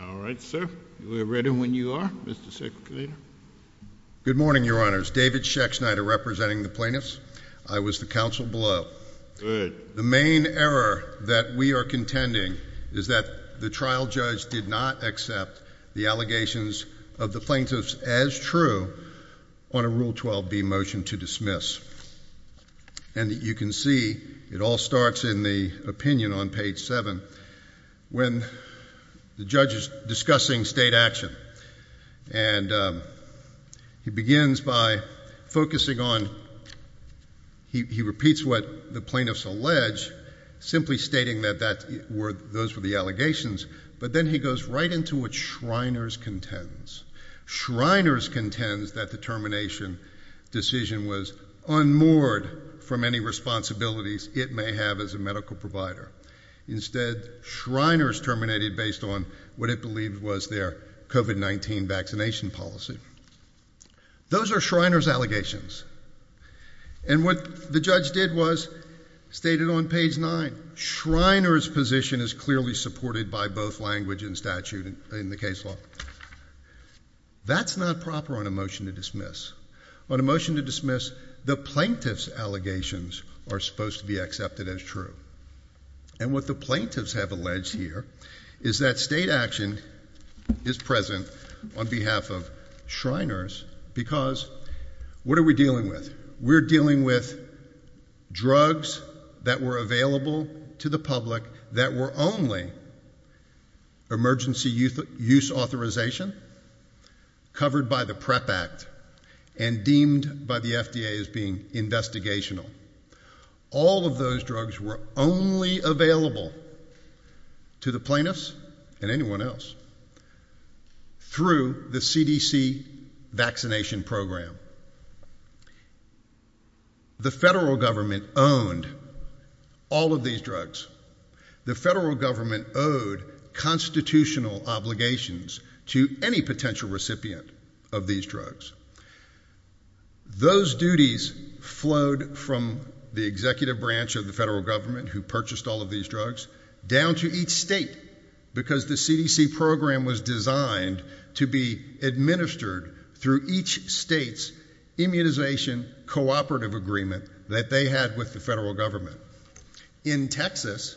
All right, sir, we're ready when you are, Mr. Secretary. Good morning, Your Honors. David Schexnayder representing the plaintiffs. I was the counsel below. The main error that we are contending is that the trial judge did not accept the allegations of the plaintiffs as true on a Rule 12b motion to dismiss. And you can see it all starts in the opinion on page 7 when the judge is discussing state action. And he begins by focusing on, he repeats what the plaintiffs allege, simply stating that those were the allegations. But then he goes right into what Shriners contends. Shriners contends that the termination decision was unmoored from any responsibilities it may have as a medical provider. Instead, Shriners terminated based on what it believed was their COVID-19 vaccination policy. Those are Shriners' allegations. And what the judge did was stated on page 9, Shriners' position is clearly supported by both language and statute in the case law. That's not proper on a motion to dismiss. On a motion to dismiss, the plaintiffs' allegations are supposed to be accepted as true. And what the plaintiffs have alleged here is that state action is present on behalf of Shriners because what are we dealing with? We're dealing with drugs that were available to the public that were only emergency use authorization, covered by the PrEP Act, and deemed by the FDA as being investigational. All of those drugs were only available to the plaintiffs and anyone else through the CDC vaccination program. The federal government owned all of these drugs. The federal government owed constitutional obligations to any potential recipient of these drugs. Those duties flowed from the executive branch of the federal government, who purchased all of these drugs, down to each state because the CDC program was designed to be administered through each state's immunization cooperative agreement that they had with the federal government. In Texas,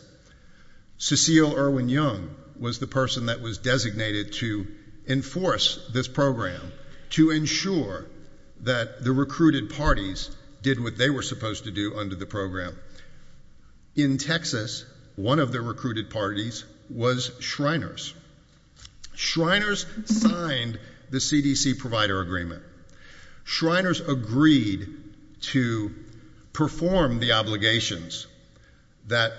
Cecile Irwin Young was the person that was designated to enforce this program to ensure that the recruited parties did what they were supposed to do under the program. In Texas, one of the recruited parties was Shriners. Shriners signed the CDC provider agreement. Shriners agreed to perform the obligations that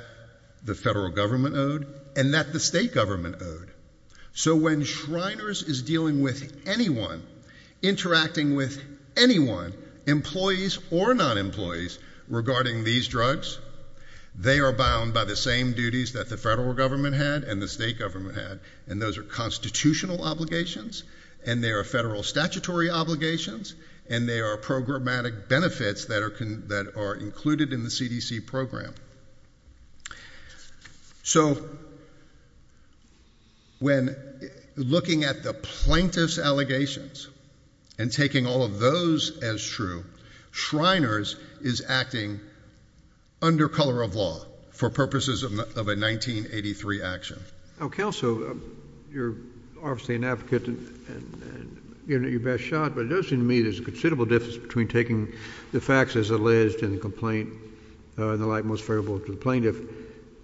the federal government owed and that the state government owed. So when Shriners is dealing with anyone, interacting with anyone, employees or non-employees, regarding these drugs, they are bound by the same duties that the federal government had and the state government had. And those are constitutional obligations, and they are federal statutory obligations, and they are programmatic benefits that are included in the CDC program. So when looking at the plaintiff's allegations and taking all of those as true, Shriners is acting under color of law for purposes of a 1983 action. Oh, Counsel, you're obviously an advocate and you're in your best shot, but it does seem to me there's a considerable difference between taking the facts as alleged in the complaint in the light most favorable to the plaintiff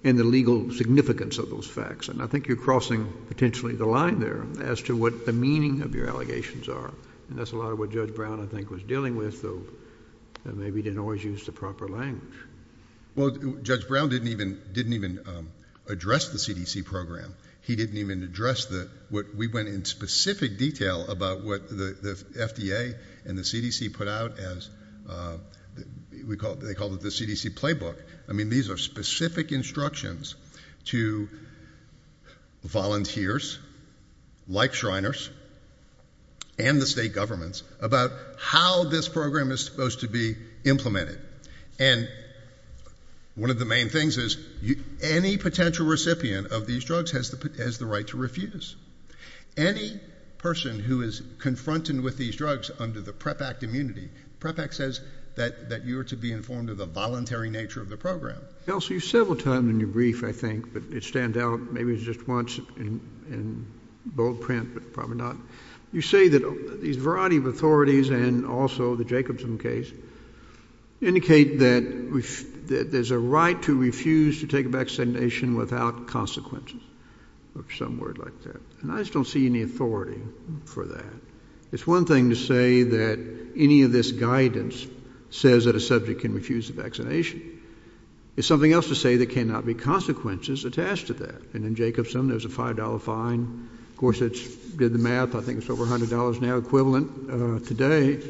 and the legal significance of those facts. And I think you're crossing potentially the line there as to what the meaning of your allegations are. And that's a lot of what Judge Brown, I think, was dealing with, though maybe he didn't always use the proper language. Well, Judge Brown didn't even address the CDC program. He didn't even address the—we went in specific detail about what the FDA and the CDC put out as—they called it the CDC playbook. I mean, these are specific instructions to volunteers like Shriners and the state governments about how this program is supposed to be implemented. And one of the main things is any potential recipient of these drugs has the right to Any person who is confronted with these drugs under the PREP Act immunity, PREP Act says that you are to be informed of the voluntary nature of the program. Counsel, you several times in your brief, I think, but it stands out, maybe it was just once in bold print, but probably not, you say that these variety of authorities and also the Jacobson case indicate that there's a right to refuse to take a vaccination without consequences or some word like that. And I just don't see any authority for that. It's one thing to say that any of this guidance says that a subject can refuse the vaccination. It's something else to say there cannot be consequences attached to that. And in Jacobson, there's a five dollar fine. Of course, it's the math. I think it's over a hundred dollars now, equivalent today.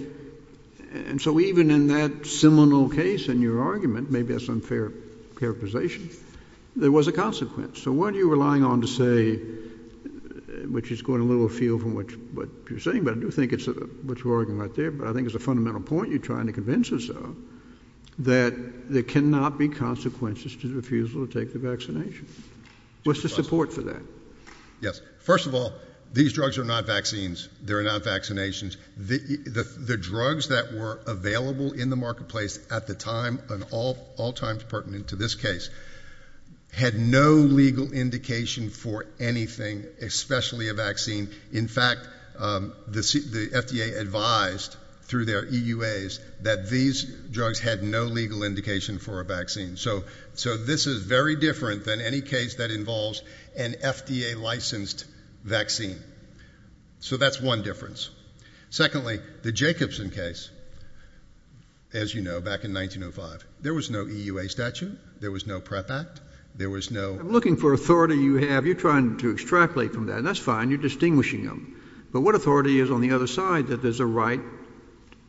And so even in that seminal case in your argument, maybe that's unfair characterization. There was a consequence. So what are you relying on to say, which is going a little afield from what you're saying? But I do think it's what you're arguing right there. But I think it's a fundamental point you're trying to convince us of that there cannot be consequences to the refusal to take the vaccination. What's the support for that? Yes. First of all, these drugs are not vaccines. They're not vaccinations. The drugs that were available in the marketplace at the time and all all times pertinent to this case had no legal indication for anything, especially a vaccine. In fact, the FDA advised through their EUAs that these drugs had no legal indication for a vaccine. So so this is very different than any case that involves an FDA. Licensed vaccine. So that's one difference. Secondly, the Jacobson case, as you know, back in 1905, there was no EUA statute. There was no prep act. There was no looking for authority you have. You're trying to extrapolate from that. And that's fine. You're distinguishing them. But what authority is on the other side that there's a right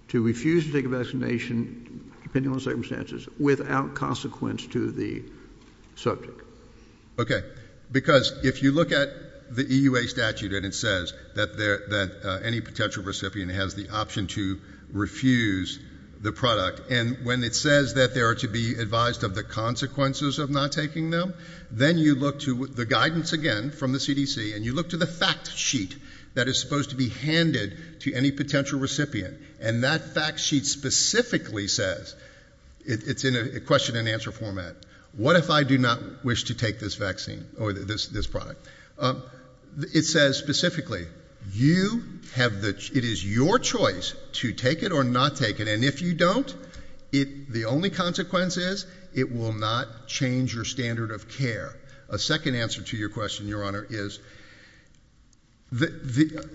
to refuse to take a vaccination, depending on circumstances, without consequence to the subject? OK, because if you look at the EUA statute and it says that that any potential recipient has the option to refuse the product and when it says that they are to be advised of the consequences of not taking them, then you look to the guidance again from the CDC and you look to the fact sheet that is supposed to be handed to any potential recipient. And that fact sheet specifically says it's in a question and answer format. What if I do not wish to take this vaccine or this product? It says specifically you have that it is your choice to take it or not take it. And if you don't, it the only consequence is it will not change your standard of care. A second answer to your question, your honor, is. The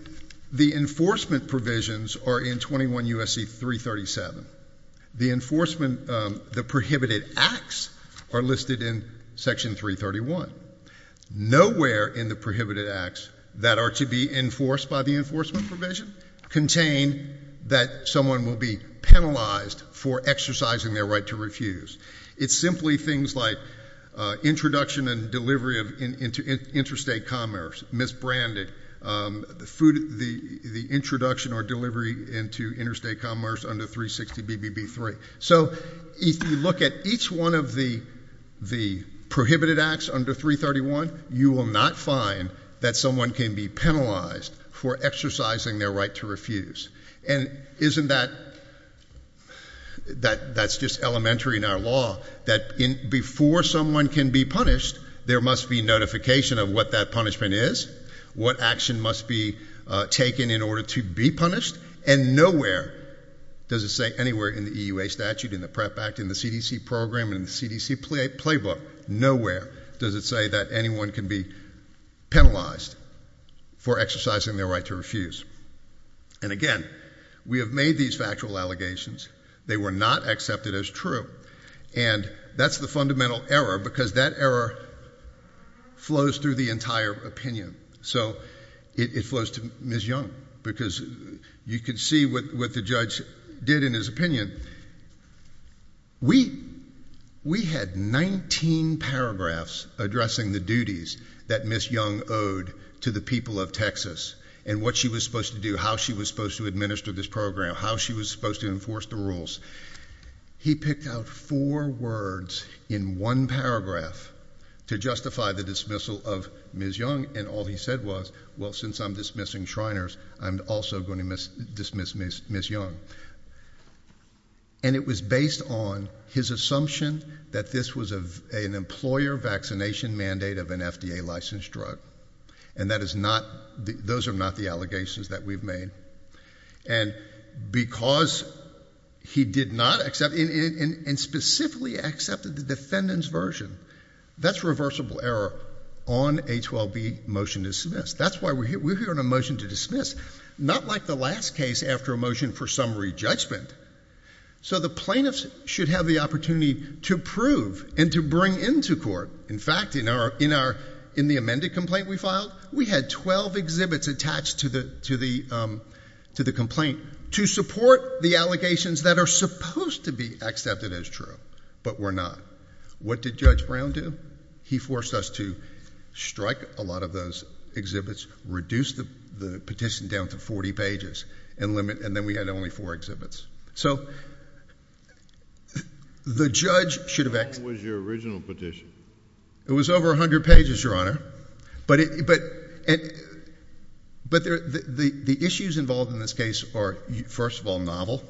the enforcement provisions are in 21 U.S. C. 337, the enforcement, the prohibited acts are listed in Section 331. Nowhere in the prohibited acts that are to be enforced by the enforcement provision contain that someone will be penalized for exercising their right to refuse. It's simply things like introduction and delivery of interstate commerce, misbranded food, the introduction or delivery into interstate commerce under 360 BBB three. So if you look at each one of the the prohibited acts under 331, you will not find that someone can be penalized for exercising their right to refuse. And isn't that. That that's just elementary in our law that before someone can be punished, there must be notification of what that punishment is. What action must be taken in order to be punished? And nowhere does it say anywhere in the EUA statute, in the prep act, in the CDC program, in the CDC playbook. Nowhere does it say that anyone can be penalized for exercising their right to refuse. And again, we have made these factual allegations. They were not accepted as true. And that's the fundamental error, because that error flows through the entire opinion. So it flows to Ms. Young, because you can see what the judge did in his opinion. We we had 19 paragraphs addressing the duties that Ms. Young owed to the people of Texas and what she was supposed to do, how she was supposed to administer this program, how she was supposed to enforce the rules. He picked out four words in one paragraph to justify the dismissal of Ms. Young, and all he said was, well, since I'm dismissing Shriners, I'm also going to dismiss Ms. Young. And it was based on his assumption that this was an employer vaccination mandate of an FDA licensed drug, and that is not those are not the allegations that we've made. And because he did not accept and specifically accepted the defendant's version, that's reversible error on a 12B motion to dismiss. That's why we're here. We're here on a motion to dismiss, not like the last case after a motion for summary judgment. So the plaintiffs should have the opportunity to prove and to bring into court. In fact, in our in our in the amended complaint we filed, we had 12 exhibits attached to the to the to the complaint to support the allegations that are supposed to be accepted as true. But we're not. What did Judge Brown do? He forced us to strike a lot of those exhibits, reduced the petition down to 40 pages and limit. And then we had only four exhibits. So the judge should have acted. What was your original petition? It was over 100 pages, Your Honor. But the issues involved in this case are, first of all, novel,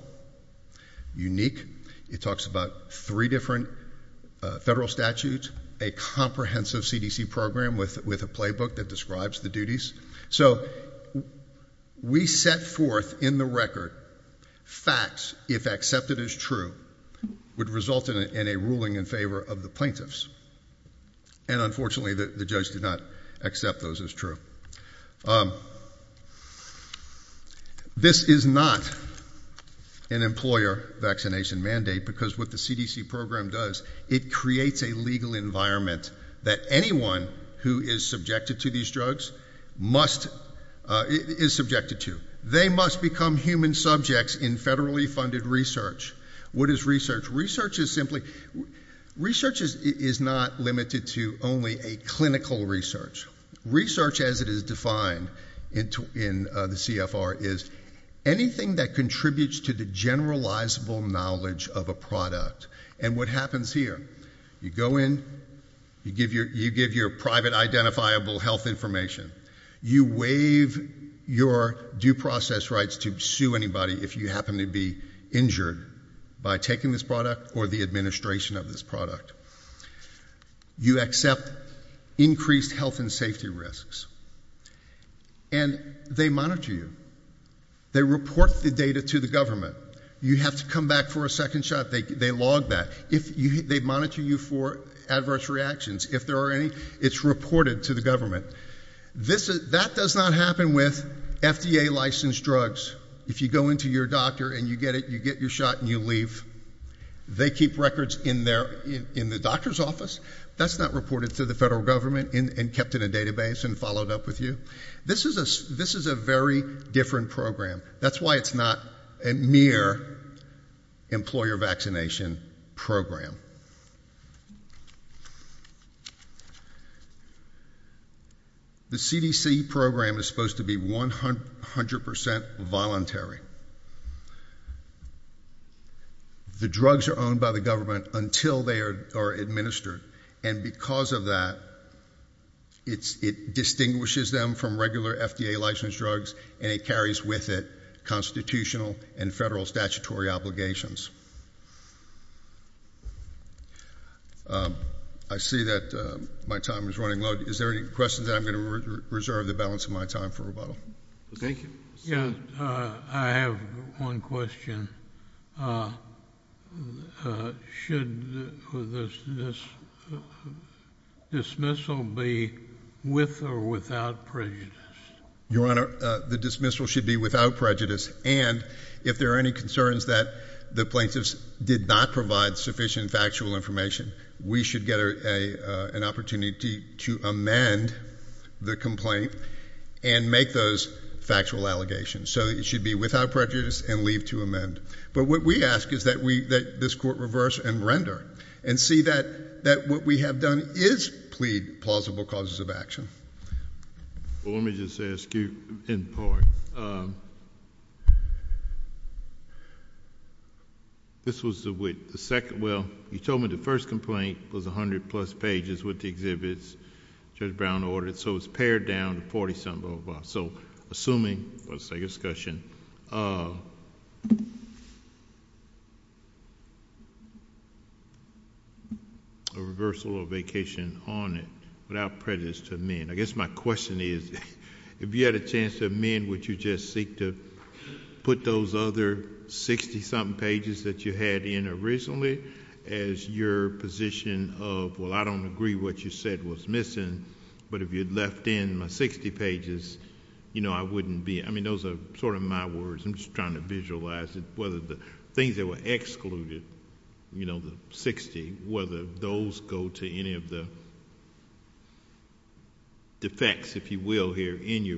unique. It talks about three different federal statutes, a comprehensive CDC program with a playbook that describes the duties. So we set forth in the record facts if accepted as true would result in a ruling in favor of the plaintiffs. And unfortunately, the judge did not accept those as true. This is not an employer vaccination mandate, because what the CDC program does, it creates a legal environment that anyone who is subjected to these drugs must is subjected to. They must become human subjects in federally funded research. What is research? Research is simply, research is not limited to only a clinical research. Research, as it is defined in the CFR, is anything that contributes to the generalizable knowledge of a product. And what happens here, you go in, you give your private identifiable health information, you waive your due process rights to sue anybody if you happen to be injured by taking this product or the administration of this product. You accept increased health and safety risks. And they monitor you. They report the data to the government. You have to come back for a second shot. They log that. If they monitor you for adverse reactions, if there are any, it's reported to the government. That does not happen with FDA licensed drugs. If you go into your doctor and you get it, you get your shot and you leave, they keep records in their, in the doctor's office. That's not reported to the federal government and kept in a database and followed up with you. This is a, this is a very different program. That's why it's not a mere employer vaccination program. The CDC program is supposed to be 100% voluntary. The drugs are owned by the government until they are administered. And because of that, it's, it distinguishes them from regular FDA licensed drugs and it carries with it constitutional and federal statutory obligations. I see that my time is running low. Is there any questions that I'm going to reserve the balance of my time for rebuttal? Thank you. Yeah. I have one question. Should this dismissal be with or without prejudice? Your Honor, the dismissal should be without prejudice. And if there are any concerns that the president of the United States is did not provide sufficient factual information, we should get a, uh, an opportunity to amend the complaint and make those factual allegations. So it should be without prejudice and leave to amend. But what we ask is that we, that this court reverse and render and see that, that what we have done is plead plausible causes of action. Well, let me just ask you in part, um, this was the, with the second, well, you told me the first complaint was a hundred plus pages with the exhibits Judge Brown ordered. So it was pared down to 40 something, so assuming let's say discussion, uh, a reversal or vacation on it without prejudice to amend. I guess my question is if you had a chance to amend, would you just seek to put those other 60 something pages that you had in originally as your position of, well, I don't agree what you said was missing, but if you'd left in my 60 pages, you know, I wouldn't be, I mean, those are sort of my words. I'm just trying to visualize it, whether the things that were excluded, you know, the 60, whether those go to any of the defects, if you will, here in your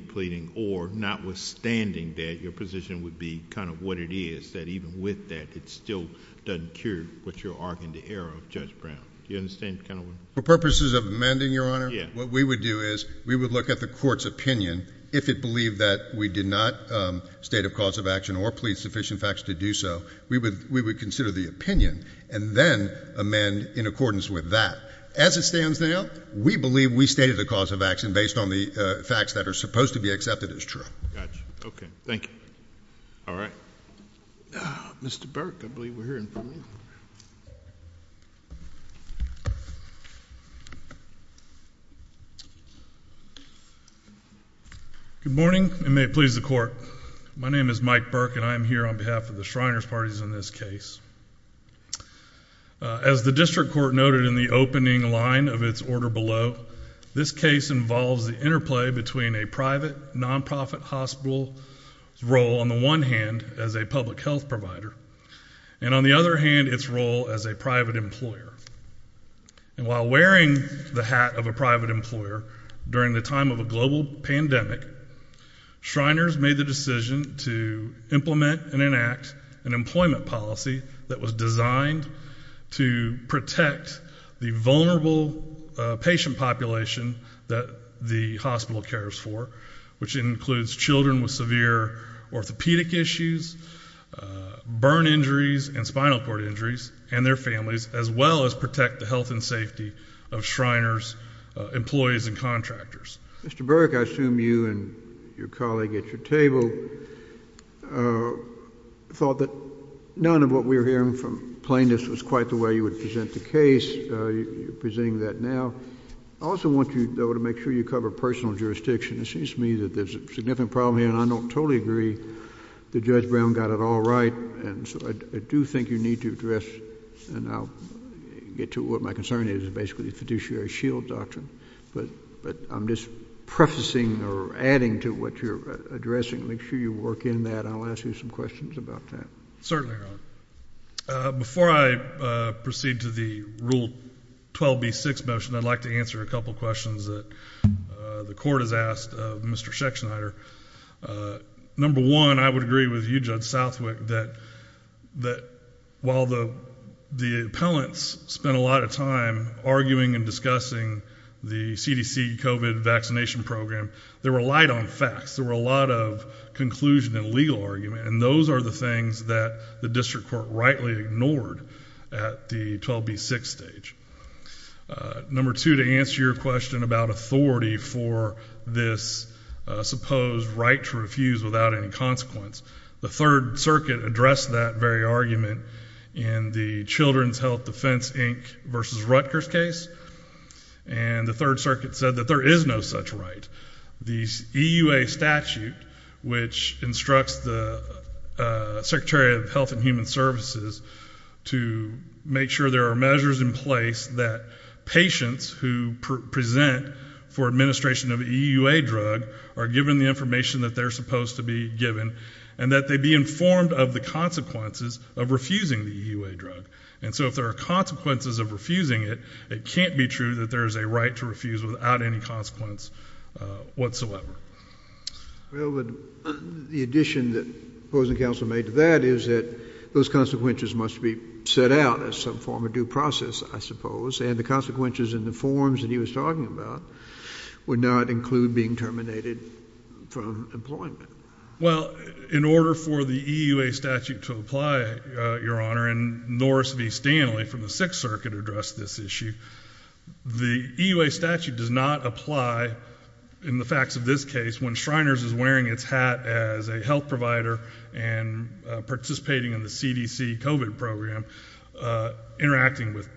or not withstanding that your position would be kind of what it is that even with that, it still doesn't cure what you're arguing the error of Judge Brown. You understand kind of for purposes of amending your honor, what we would do is we would look at the court's opinion. If it believed that we did not, um, state of cause of action or please sufficient facts to do so, we would, we would consider the opinion and then amend in accordance with that as it stands. Now, we believe we stated the cause of action based on the facts that are supposed to be accepted as true. Gotcha. Okay. Thank you. All right. Mr. Burke, I believe we're hearing from you. Good morning and may it please the court. My name is Mike Burke and I am here on behalf of the Shriners Parties in this case. As the district court noted in the opening line of its order below, this case involves the interplay between a private nonprofit hospital role on the one hand as a public health provider, and on the other hand, its role as a private employer. And while wearing the hat of a private employer during the time of a global pandemic, Shriners made the decision to implement and enact an employment was designed to protect the vulnerable patient population that the hospital cares for, which includes children with severe orthopedic issues, burn injuries and spinal cord injuries and their families, as well as protect the health and safety of Shriners employees and contractors. Mr. Burke, I assume you and your colleague at your table thought that none of what we're hearing from plaintiffs was quite the way you would present the case. You're presenting that now. I also want you, though, to make sure you cover personal jurisdiction. It seems to me that there's a significant problem here and I don't totally agree that Judge Brown got it all right. And so I do think you need to address, and I'll get to what my concern is, basically the fiduciary shield doctrine. But I'm just prefacing or adding to what you're addressing. Make sure you work in that. I'll ask you some questions about that. Certainly, Your Honor. Before I proceed to the Rule 12B-6 motion, I'd like to answer a couple questions that the court has asked of Mr. Schechtschneider. Number one, I would agree with you, Judge Southwick, that while the appellants spent a lot of time arguing and discussing the CDC COVID vaccination program, there were a lot of facts, there were a lot of conclusion and legal argument, and those are the things that the district court rightly ignored at the 12B-6 stage. Number two, to answer your question about authority for this supposed right to refuse without any consequence, the Third Circuit addressed that very argument in the Children's Health Defense, Inc. v. Rutgers case. And the Third Circuit said that there is no such right. The EUA statute, which instructs the Secretary of Health and Human Services to make sure there are measures in place that patients who present for administration of an EUA drug are given the information that they're supposed to be given, and that they be informed of the consequences of refusing the EUA drug. And so if there are consequences of refusing it, it can't be true that there is a right to refuse without any consequence whatsoever. Well, the addition that opposing counsel made to that is that those consequences must be set out as some form of due process, I suppose, and the consequences in the forms that he was talking about would not include being terminated from employment. Well, in order for the EUA statute to apply, Your Honor, and Norris v. Stanley from the Sixth Circuit addressed this issue, the EUA statute does not apply, in the facts of this case, when Shriners is wearing its hat as a health provider and participating in the CDC COVID program, interacting with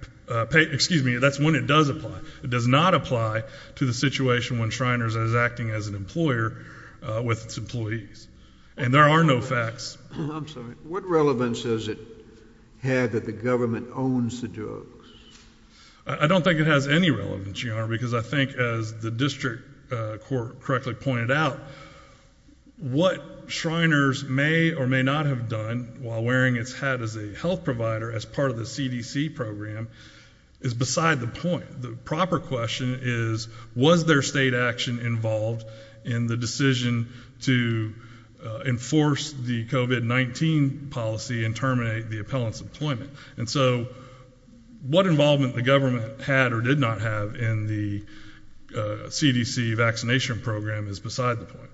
patients. Excuse me, that's when it does apply. It does not apply to the situation when Shriners is acting as an employer with its employees. And there are no facts. I'm sorry. What relevance does it have that the government owns the drugs? I don't think it has any relevance, Your Honor, because I think as the district court correctly pointed out, what Shriners may or may not have done while wearing its hat as a health provider as part of the CDC program is beside the point. The proper question is, was there state action involved in the decision to enforce the COVID-19 policy and terminate the appellant's employment? And so what involvement the government had or did not have in the CDC vaccination program is beside the point.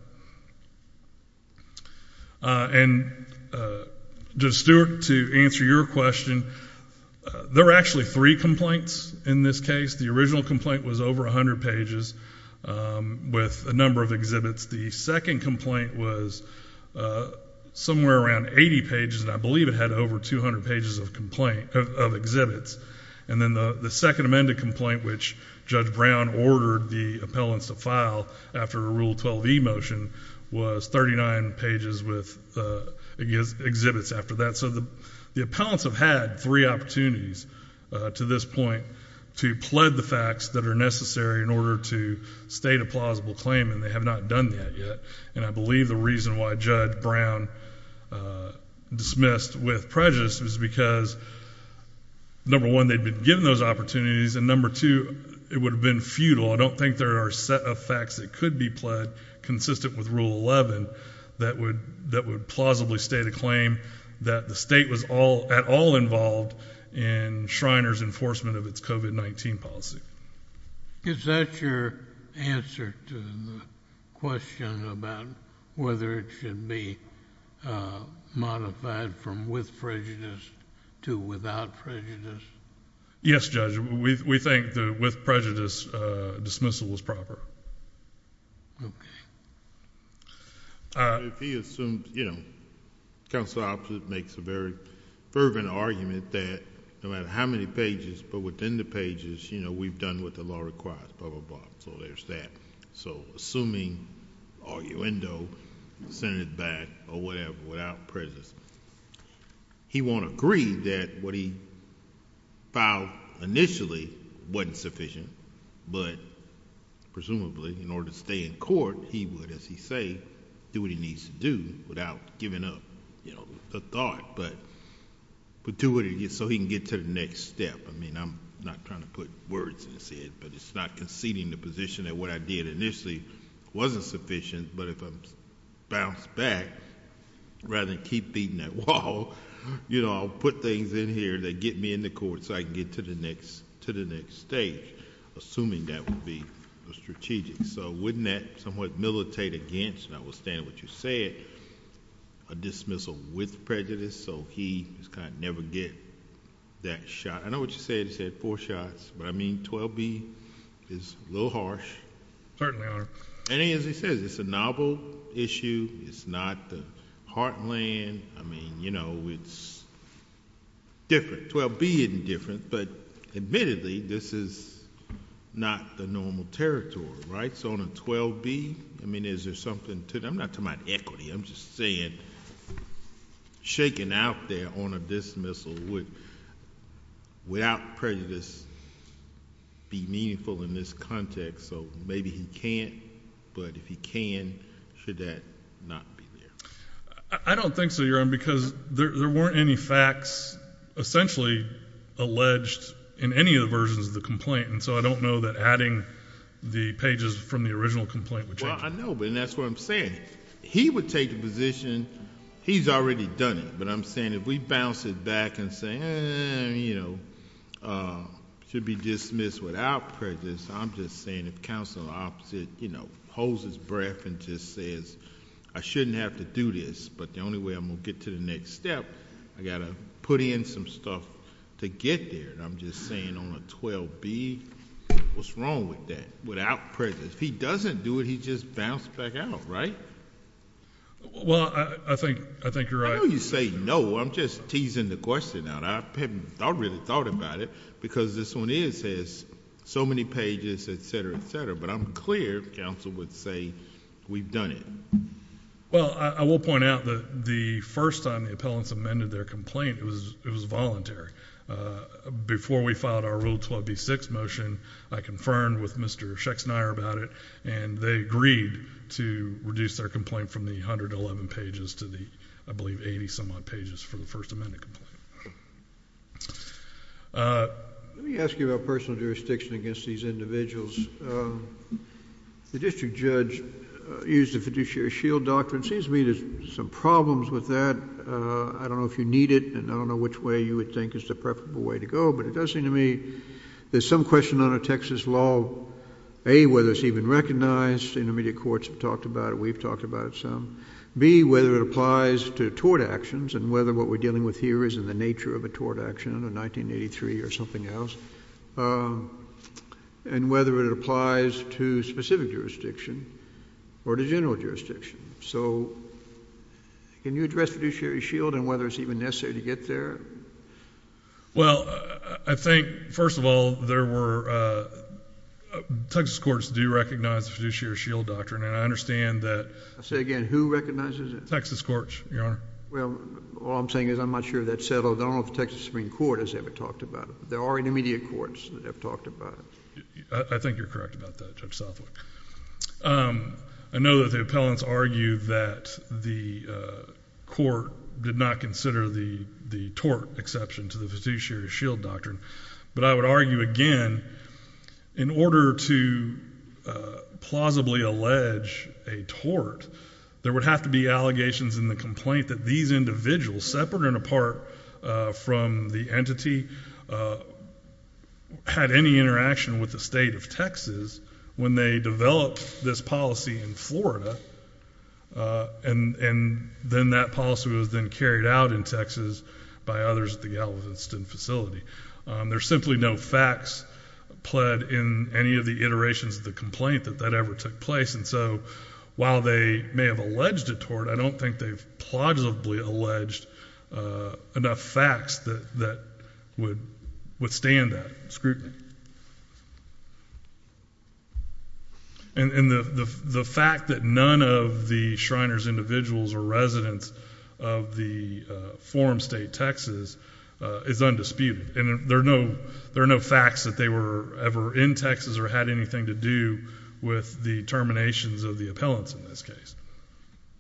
And Judge Stewart, to answer your question, there were actually three complaints in this case. The original complaint was over 100 pages with a number of exhibits. The second complaint was somewhere around 80 pages, and I believe it had over 200 pages of exhibits. And then the second amended complaint, which Judge Brown ordered the appellants to file after a Rule 12e motion, was 39 pages with exhibits after that. So the appellants have had three opportunities to this point to plead the facts that are necessary in order to state a plausible claim, and they have not done that yet. And I believe the reason why Judge Brown dismissed with prejudice was because number one, they'd been given those opportunities, and number two, it would have been futile. I don't think there are a set of facts that could be pled consistent with Rule 11 that would plausibly state a claim that the state was at all involved in Shriners' enforcement of its COVID-19 policy. Is that your answer to the question about whether it should be modified from with prejudice to without prejudice? Yes, Judge. We think the with prejudice dismissal was proper. Okay. If he assumed... the counsel opposite makes a very fervent argument that no matter how many pages, but within the pages, we've done what the law requires, blah, blah, blah, so there's that. So assuming, arguendo, sent it back or whatever, without prejudice, he won't agree that what he filed initially wasn't sufficient, but presumably in order to stay in court, he would, as he say, do what he needs to do without giving up a thought, but do what he needs to do so he can get to the next step. I'm not trying to put words in his head, but it's not conceding the position that what I did initially wasn't sufficient, but if I bounce back, rather than keep beating that wall, I'll put things in here that get me in the court so I can get to the next stage, assuming that would be strategic. So wouldn't that somewhat militate against, notwithstanding what you said, a dismissal with prejudice, so he is going to never get that shot? I know what you said, you said four shots, but I mean, 12B is a little harsh. Certainly, Your Honor. And as he says, it's a novel issue. It's not the heartland. I mean, you know, it's different. 12B isn't different, but admittedly, this is not the normal territory, right? So on a 12B, I mean, is there something to... I'm not talking about equity. I'm just saying, shaking out there on a dismissal would, without prejudice, be meaningful in this context, so maybe he can't, but if he can, should that not be there? I don't think so, Your Honor, because there weren't any facts essentially alleged in any of the versions of the complaint, and so I don't know that adding the pages from the original complaint would change it. Well, I know, but that's what I'm saying. He would take the position, he's already done it, but I'm saying if we bounce it back and say, you know, should be dismissed without prejudice, I'm just saying if counsel opposes, you know, holds his breath and just says, I shouldn't have to do this, but the only way I'm going to get to the next step, I got to put in some stuff to get there, and I'm just saying on a 12B, what's wrong with that, without prejudice? If he doesn't do it, he just bounces back out, right? Well, I think you're right. I know you say no, I'm just teasing the question out. I haven't really thought about it, because this one is, has so many pages, et cetera, et cetera, but I'm clear counsel would say we've done it. Well, I will point out that the first time the appellants amended their complaint, it was voluntary. Before we filed our Rule 12B-6 motion, I confirmed with Mr. Schexnayer about it, and they agreed to reduce their complaint from the 111 pages to the, I believe, 80 some odd pages for the first amendment complaint. Let me ask you about personal jurisdiction against these individuals. The district judge used the fiduciary shield doctrine. It seems to me there's some problems with that. I don't know if you need it, and I don't know which way you would think is the preferable way to go, but it does seem to me there's some question on a Texas law, A, whether it's even recognized. Intermediate courts have talked about it. We've talked about it some. B, whether it applies to tort actions, and whether what we're dealing with here is in the nature of a tort action under 1983 or something else, and whether it applies to specific jurisdiction or to general jurisdiction. So, can you address fiduciary shield and whether it's even necessary to get there? Well, I think, first of all, there were... Texas courts do recognize fiduciary shield doctrine, and I understand that... I'll say it again. Who recognizes it? Texas courts, Your Honor. Well, all I'm saying is I'm not sure that's settled. I don't know if the Texas Supreme Court has ever talked about it. There are intermediate courts that have talked about it. I think you're correct about that, Judge Southwick. I know that the appellants argue that the court did not consider the tort exception to the fiduciary shield doctrine. But I would argue, again, in order to plausibly allege a tort, there would have to be allegations in the complaint that these individuals, separate and apart from the entity, had any interaction with the state of Texas when they developed this policy in Florida and then that policy was then carried out in Texas by others at the Galveston facility. There's simply no facts pled in any of the iterations of the complaint that that ever took place. And so, while they may have alleged a tort, I don't think they've plausibly alleged enough facts that would withstand that. Scrutiny. And the fact that none of the Shriners' individuals or residents of the form state Texas is undisputed. And there are no facts that they were ever in Texas or had anything to do with the terminations of the appellants in this case.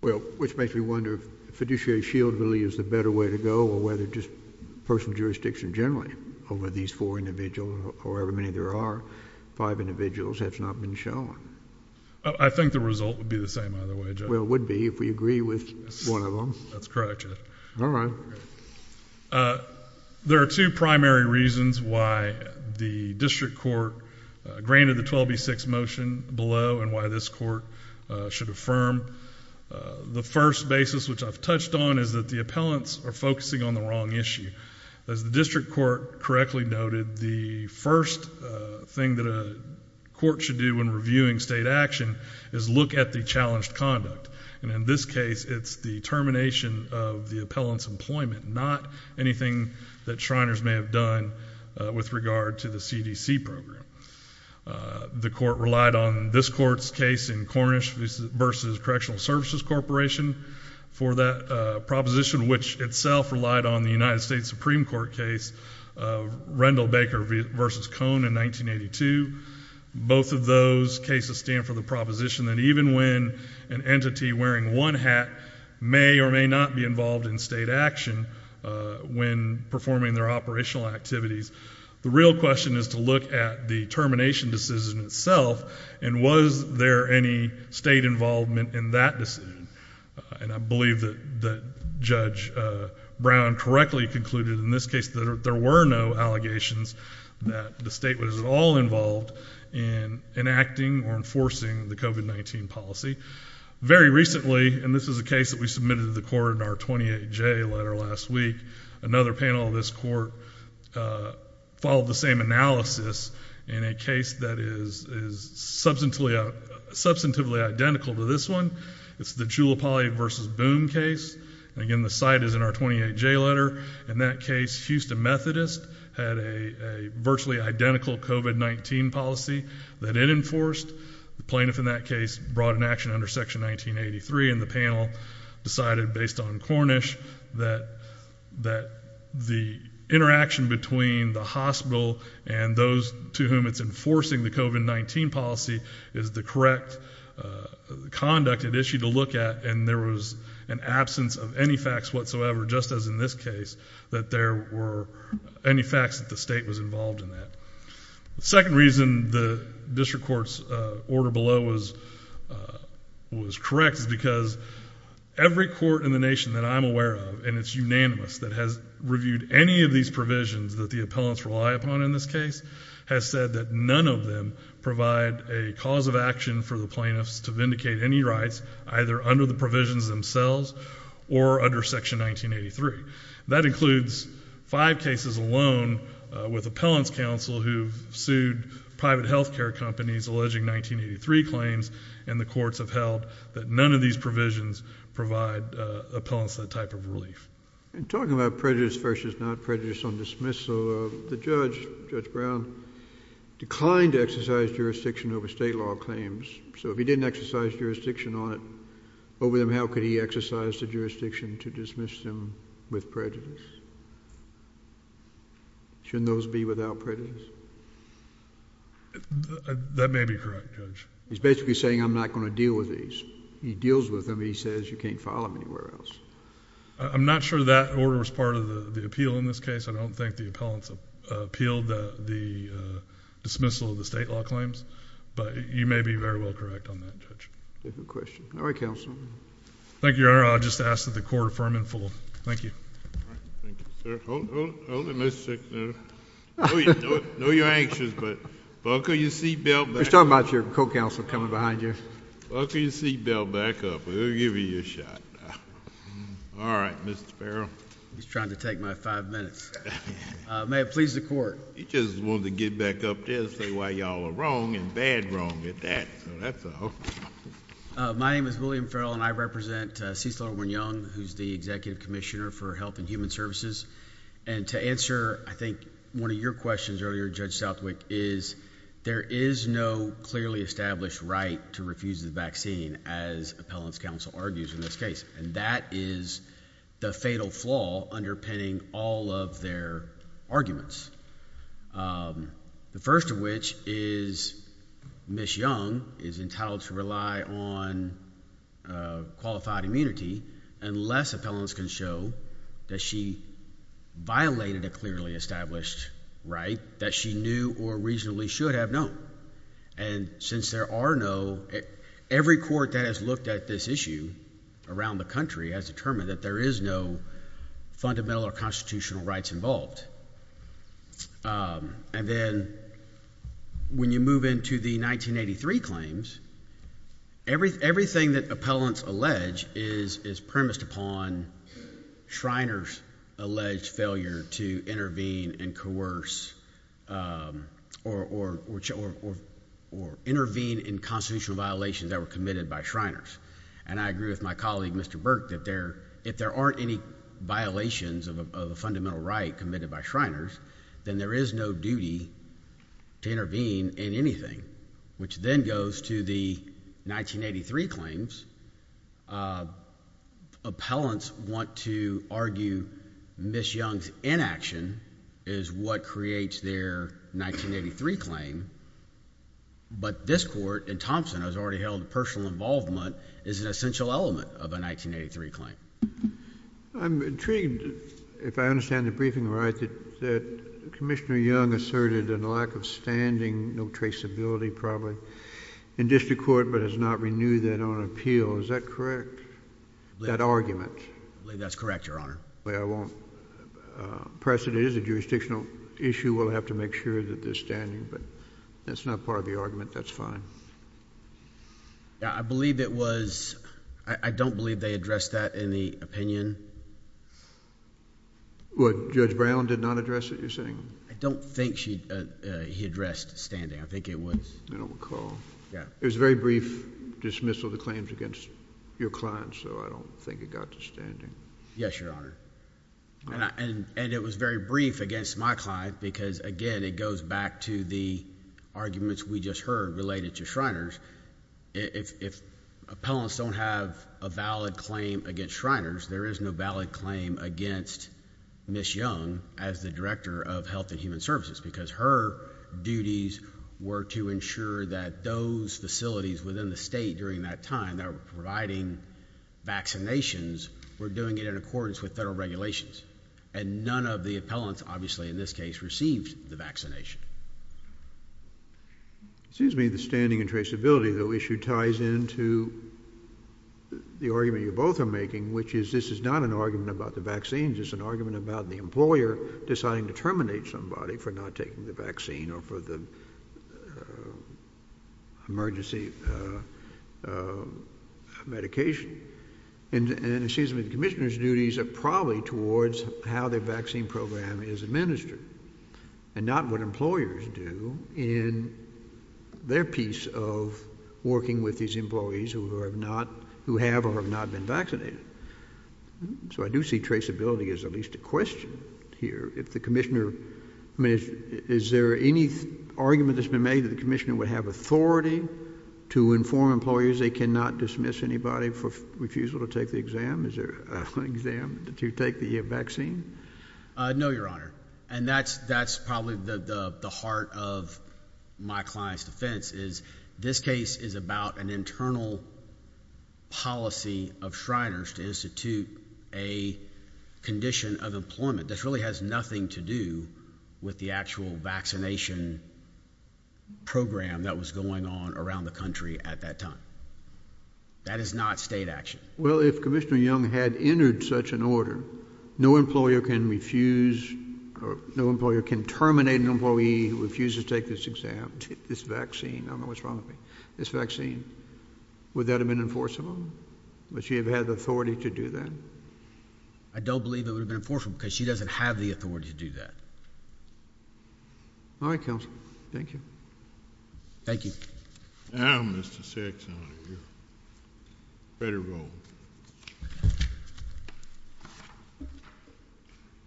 Well, which makes me wonder if fiduciary shield really is the better way to go or whether just personal jurisdiction generally over these four individuals or however many there are, five individuals, has not been shown. I think the result would be the same either way, Judge. Well, it would be if we agree with one of them. That's correct, Judge. All right. There are two primary reasons why the district court granted the 12B6 motion below and why this court should affirm. The first basis which I've touched on is that the appellants are focusing on the wrong issue. As the district court correctly noted, the first thing that a court should do when reviewing state action is look at the challenged conduct. And in this case, it's the termination of the appellant's employment, not anything that Shriners may have done with regard to the CDC program. The court relied on this court's case in Cornish v. Correctional Services Corporation for that proposition, which itself relied on the United States Supreme Court case, Rendell Baker v. Cone in 1982. Both of those cases stand for the proposition that even when an entity wearing one hat may or may not be involved in state action when performing their operational activities, the real question is to look at the termination decision itself and was there any state involvement in that decision. And I believe that Judge Brown correctly concluded in this case that there were no allegations that the state was at all involved in enacting or enforcing the COVID-19 policy. Very recently, and this is a case that we submitted to the court in our 28J letter last week, another panel of this court followed the same analysis in a case that is substantively identical to this one. It's the Giuliopoli v. Boom case. Again, the site is in our 28J letter. In that case, Houston Methodist had a virtually identical COVID-19 policy that it enforced. The plaintiff in that case brought an action under Section 1983, and the panel decided based on Cornish that the interaction between the hospital and those to whom it's enforcing the COVID-19 policy is the correct conduct and issue to look at, and there was an absence of any facts whatsoever, just as in this case, that there were any facts that the state was involved in that. The second reason the district court's order below was correct is because every court in the nation that I'm aware of, and it's unanimous, that has reviewed any of these provisions that the appellants rely upon in this case, has said that none of them provide a cause of action for the plaintiffs to vindicate any rights either under the provisions themselves or under Section 1983. That includes five cases alone with appellants counsel who sued private health care companies alleging 1983 claims, and the courts have held that none of these provisions provide appellants that type of relief. And talking about prejudice versus not prejudice on dismissal, the judge, Judge Brown, declined to exercise jurisdiction over state law claims. So if he didn't exercise jurisdiction on it over them, how could he deal with prejudice? Shouldn't those be without prejudice? That may be correct, Judge. He's basically saying I'm not going to deal with these. He deals with them. He says you can't file them anywhere else. I'm not sure that order was part of the appeal in this case. I don't think the appellants appealed the dismissal of the state law claims, but you may be very well correct on that, Judge. Good question. All right, Counsel. Thank you, Your Honor. I'll just ask that the Court affirm and fold. Thank you. All right. Thank you, sir. Hold it a minute, sir. I know you're anxious, but buckle your seat belt back up. He's talking about your co-counsel coming behind you. Buckle your seat belt back up. We'll give you your shot. All right, Mr. Farrell. He's trying to take my five minutes. May it please the Court. He just wanted to get back up there and say why you all are wrong and bad wrong at that, so that's all. My name is William Farrell, and I represent Cecil Irwin Young, who's the Executive Commissioner for Health and Human Services. And to answer, I think, one of your questions earlier, Judge Southwick, is there is no clearly established right to refuse the vaccine, as Appellants' Counsel argues in this case. And that is the fatal flaw underpinning all of their arguments, the first of which is Ms. Young is entitled to rely on qualified immunity unless Appellants can show that she violated a clearly established right that she knew or reasonably should have known. And since there are no, every court that has looked at this issue around the country has determined that there is no fundamental or constitutional rights involved. And then when you move into the 1983 claims, everything that Appellants allege is premised upon Shriners' alleged failure to intervene and coerce or intervene in constitutional violations that were committed by Shriners. And I agree with my colleague, Mr. Burke, that if there aren't any violations of a fundamental right committed by Shriners, then there is no duty to intervene in anything, which then goes to the 1983 claims. Appellants want to argue Ms. Young's inaction is what creates their 1983 claim. But this court, and Thompson has already held personal involvement, is an essential element of a 1983 claim. I'm intrigued, if I understand the briefing right, that Commissioner Young asserted a lack of standing, no traceability probably, in district court, but has not renewed that on appeal. Is that correct, that argument? I believe that's correct, Your Honor. I won't press it. It is a jurisdictional issue. We'll have to make sure that there's standing. But that's not part of the argument. That's fine. I believe it was... I don't believe they addressed that in the opinion. Judge Brown did not address it, you're saying? I don't think he addressed standing. I think it was... I don't recall. It was a very brief dismissal of the claims against your client, so I don't think it got to standing. Yes, Your Honor. And it was very brief against my client, because, again, it goes back to the arguments we just heard related to Shriners. If appellants don't have a valid claim against Shriners, there is no valid claim against Ms. Young as the Director of Health and Human Services, because her duties were to ensure that those facilities within the state during that time that were providing vaccinations were doing it in accordance with federal regulations. And none of the appellants, obviously, in this case, received the vaccination. It seems to me the standing and traceability issue ties into the argument you both are making, which is this is not an argument about the vaccine, this is an argument about the employer deciding to terminate somebody for not taking the vaccine or for the emergency medication. And it seems to me the Commissioner's duties are probably towards how the vaccine program is administered and not what employers do in their piece of working with these employees who have or have not been vaccinated. So I do see traceability as at least a question here. If the Commissioner, I mean, is there any argument that's been made that the Commissioner would have authority to inform employers they cannot dismiss anybody for refusal to take the exam? Is there an exam to take the vaccine? No, Your Honor. And that's probably the heart of my client's defense is this case is about an internal policy of Shriners to institute a condition of employment. This really has nothing to do with the actual vaccination program that was going on around the country at that time. That is not state action. Well, if Commissioner Young had entered such an order, no employer can refuse or no employer can terminate an employee who refuses to take this exam, take this vaccine. I don't know what's wrong with me. This vaccine, would that have been enforceable? Would she have had the authority to do that? I don't believe it would have been enforceable because she doesn't have the authority to do that. All right, Counsel. Thank you. Thank you. I don't miss the sex out of you. Better roll.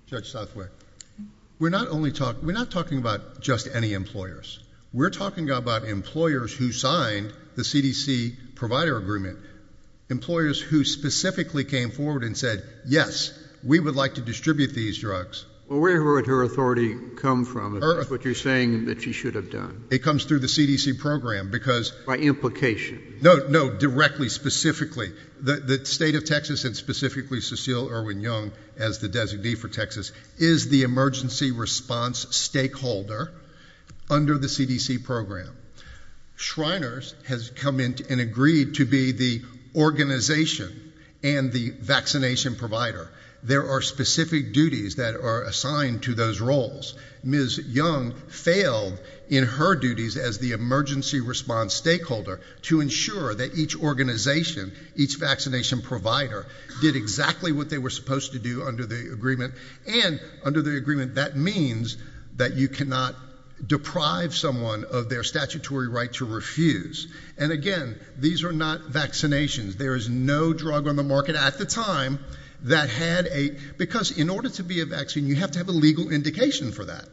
Judge Southwick, we're not talking about just any employers. We're talking about employers who signed the CDC provider agreement, employers who specifically came forward and said, yes, we would like to distribute these drugs. Well, where would her authority come from? That's what you're saying that she should have done. It comes through the CDC program because. By implication. No, no, directly, specifically. The state of Texas and specifically Cecile Irwin Young, as the designee for Texas, is the emergency response stakeholder under the CDC program. Shriners has come in and agreed to be the organization and the vaccination provider. There are specific duties that are assigned to those roles. Ms. Young failed in her duties as the emergency response stakeholder to ensure that each organization, each vaccination provider, did exactly what they were supposed to do under the agreement. And under the agreement, that means that you cannot deprive someone of their statutory right to And again, these are not vaccinations. There is no drug on the market at the time that had a, because in order to be a vaccine, you have to have a legal indication for that.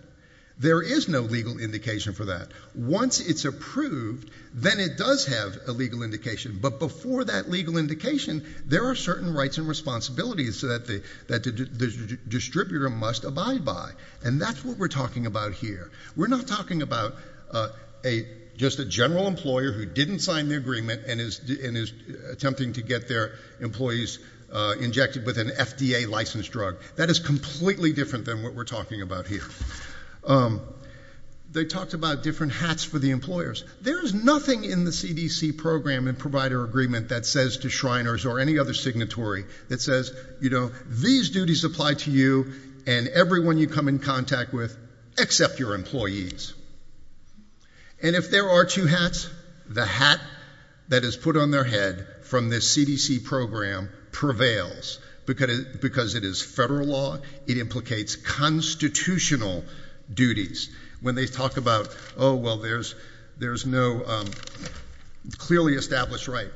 There is no legal indication for that. Once it's approved, then it does have a legal indication. But before that legal indication, there are certain rights and responsibilities that the distributor must abide by. And that's what we're talking about here. We're not talking about just a general employer who didn't sign the agreement and is attempting to get their employees injected with an FDA licensed drug. That is completely different than what we're talking about here. They talked about different hats for the employers. There is nothing in the CDC program and provider agreement that says to Shriners or any other signatory that says, you know, these duties apply to you and everyone you come in contact with except your employees. And if there are two hats, the hat that is put on their head from this CDC program prevails because it is federal law. It implicates constitutional duties. When they talk about, oh, well, there's no clearly established right,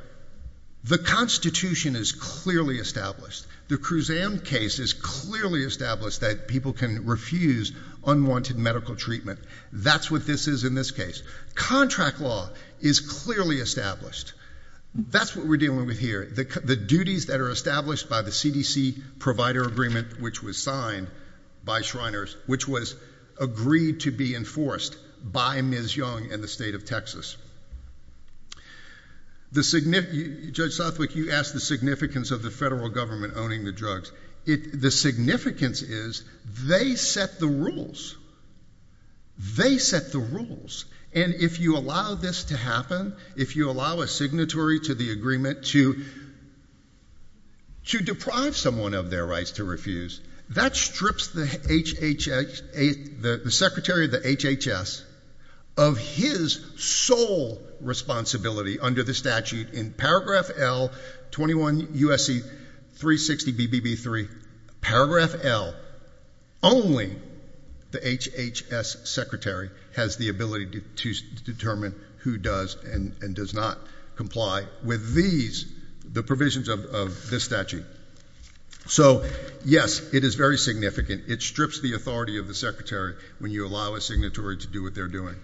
the Constitution is clearly established. The Kruzan case is clearly established that people can refuse unwanted medical treatment. That's what this is in this case. Contract law is clearly established. That's what we're dealing with here. The duties that are established by the CDC provider agreement, which was signed by Shriners, which was agreed to be enforced by Ms. Young and the state of Texas. Judge Southwick, you asked the significance of the federal government owning the drugs. The significance is they set the rules. They set the rules. And if you allow this to happen, if you allow a signatory to the agreement to deprive someone of their rights to refuse, that strips the secretary of the HHS of his sole responsibility under the statute. In paragraph L, 21 U.S.C. 360 BBB 3, paragraph L, only the HHS secretary has the ability to determine who does and does not comply with these, the provisions of this statute. So, yes, it is very significant. It strips the authority of the secretary when you allow a signatory to do what they're doing.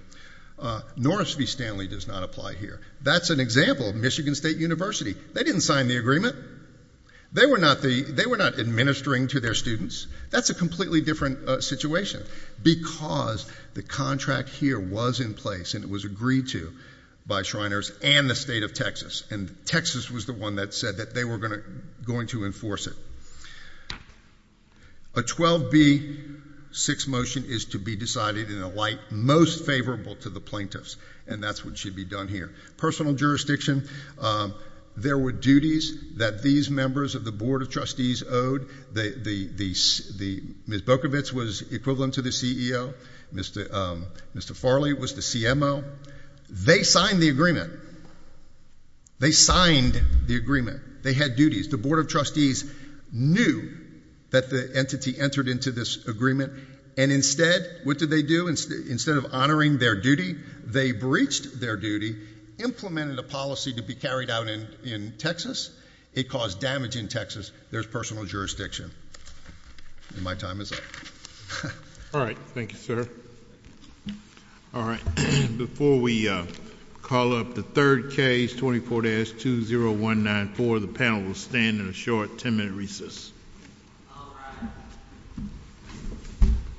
Norris v. Stanley does not apply here. That's an example of Michigan State University. They didn't sign the agreement. They were not administering to their students. That's a completely different situation because the contract here was in place and it was agreed to by Shriners and the State of Texas. And Texas was the one that said that they were going to enforce it. A 12B6 motion is to be decided in a light most favorable to the plaintiffs, and that's what should be done here. Personal jurisdiction. There were duties that these members of the Board of Trustees owed. Ms. Bokovitz was equivalent to the CEO. Mr. Farley was the CMO. They signed the agreement. They signed the agreement. They had duties. The Board of Trustees knew that the entity entered into this agreement. And instead, what did they do? Instead of honoring their duty, they breached their duty, implemented a policy to be carried out in Texas. It caused damage in Texas. There's personal jurisdiction. And my time is up. All right. Thank you, sir. All right. Before we call up the third case, 24-20194, the panel will stand in a short 10-minute recess. All rise.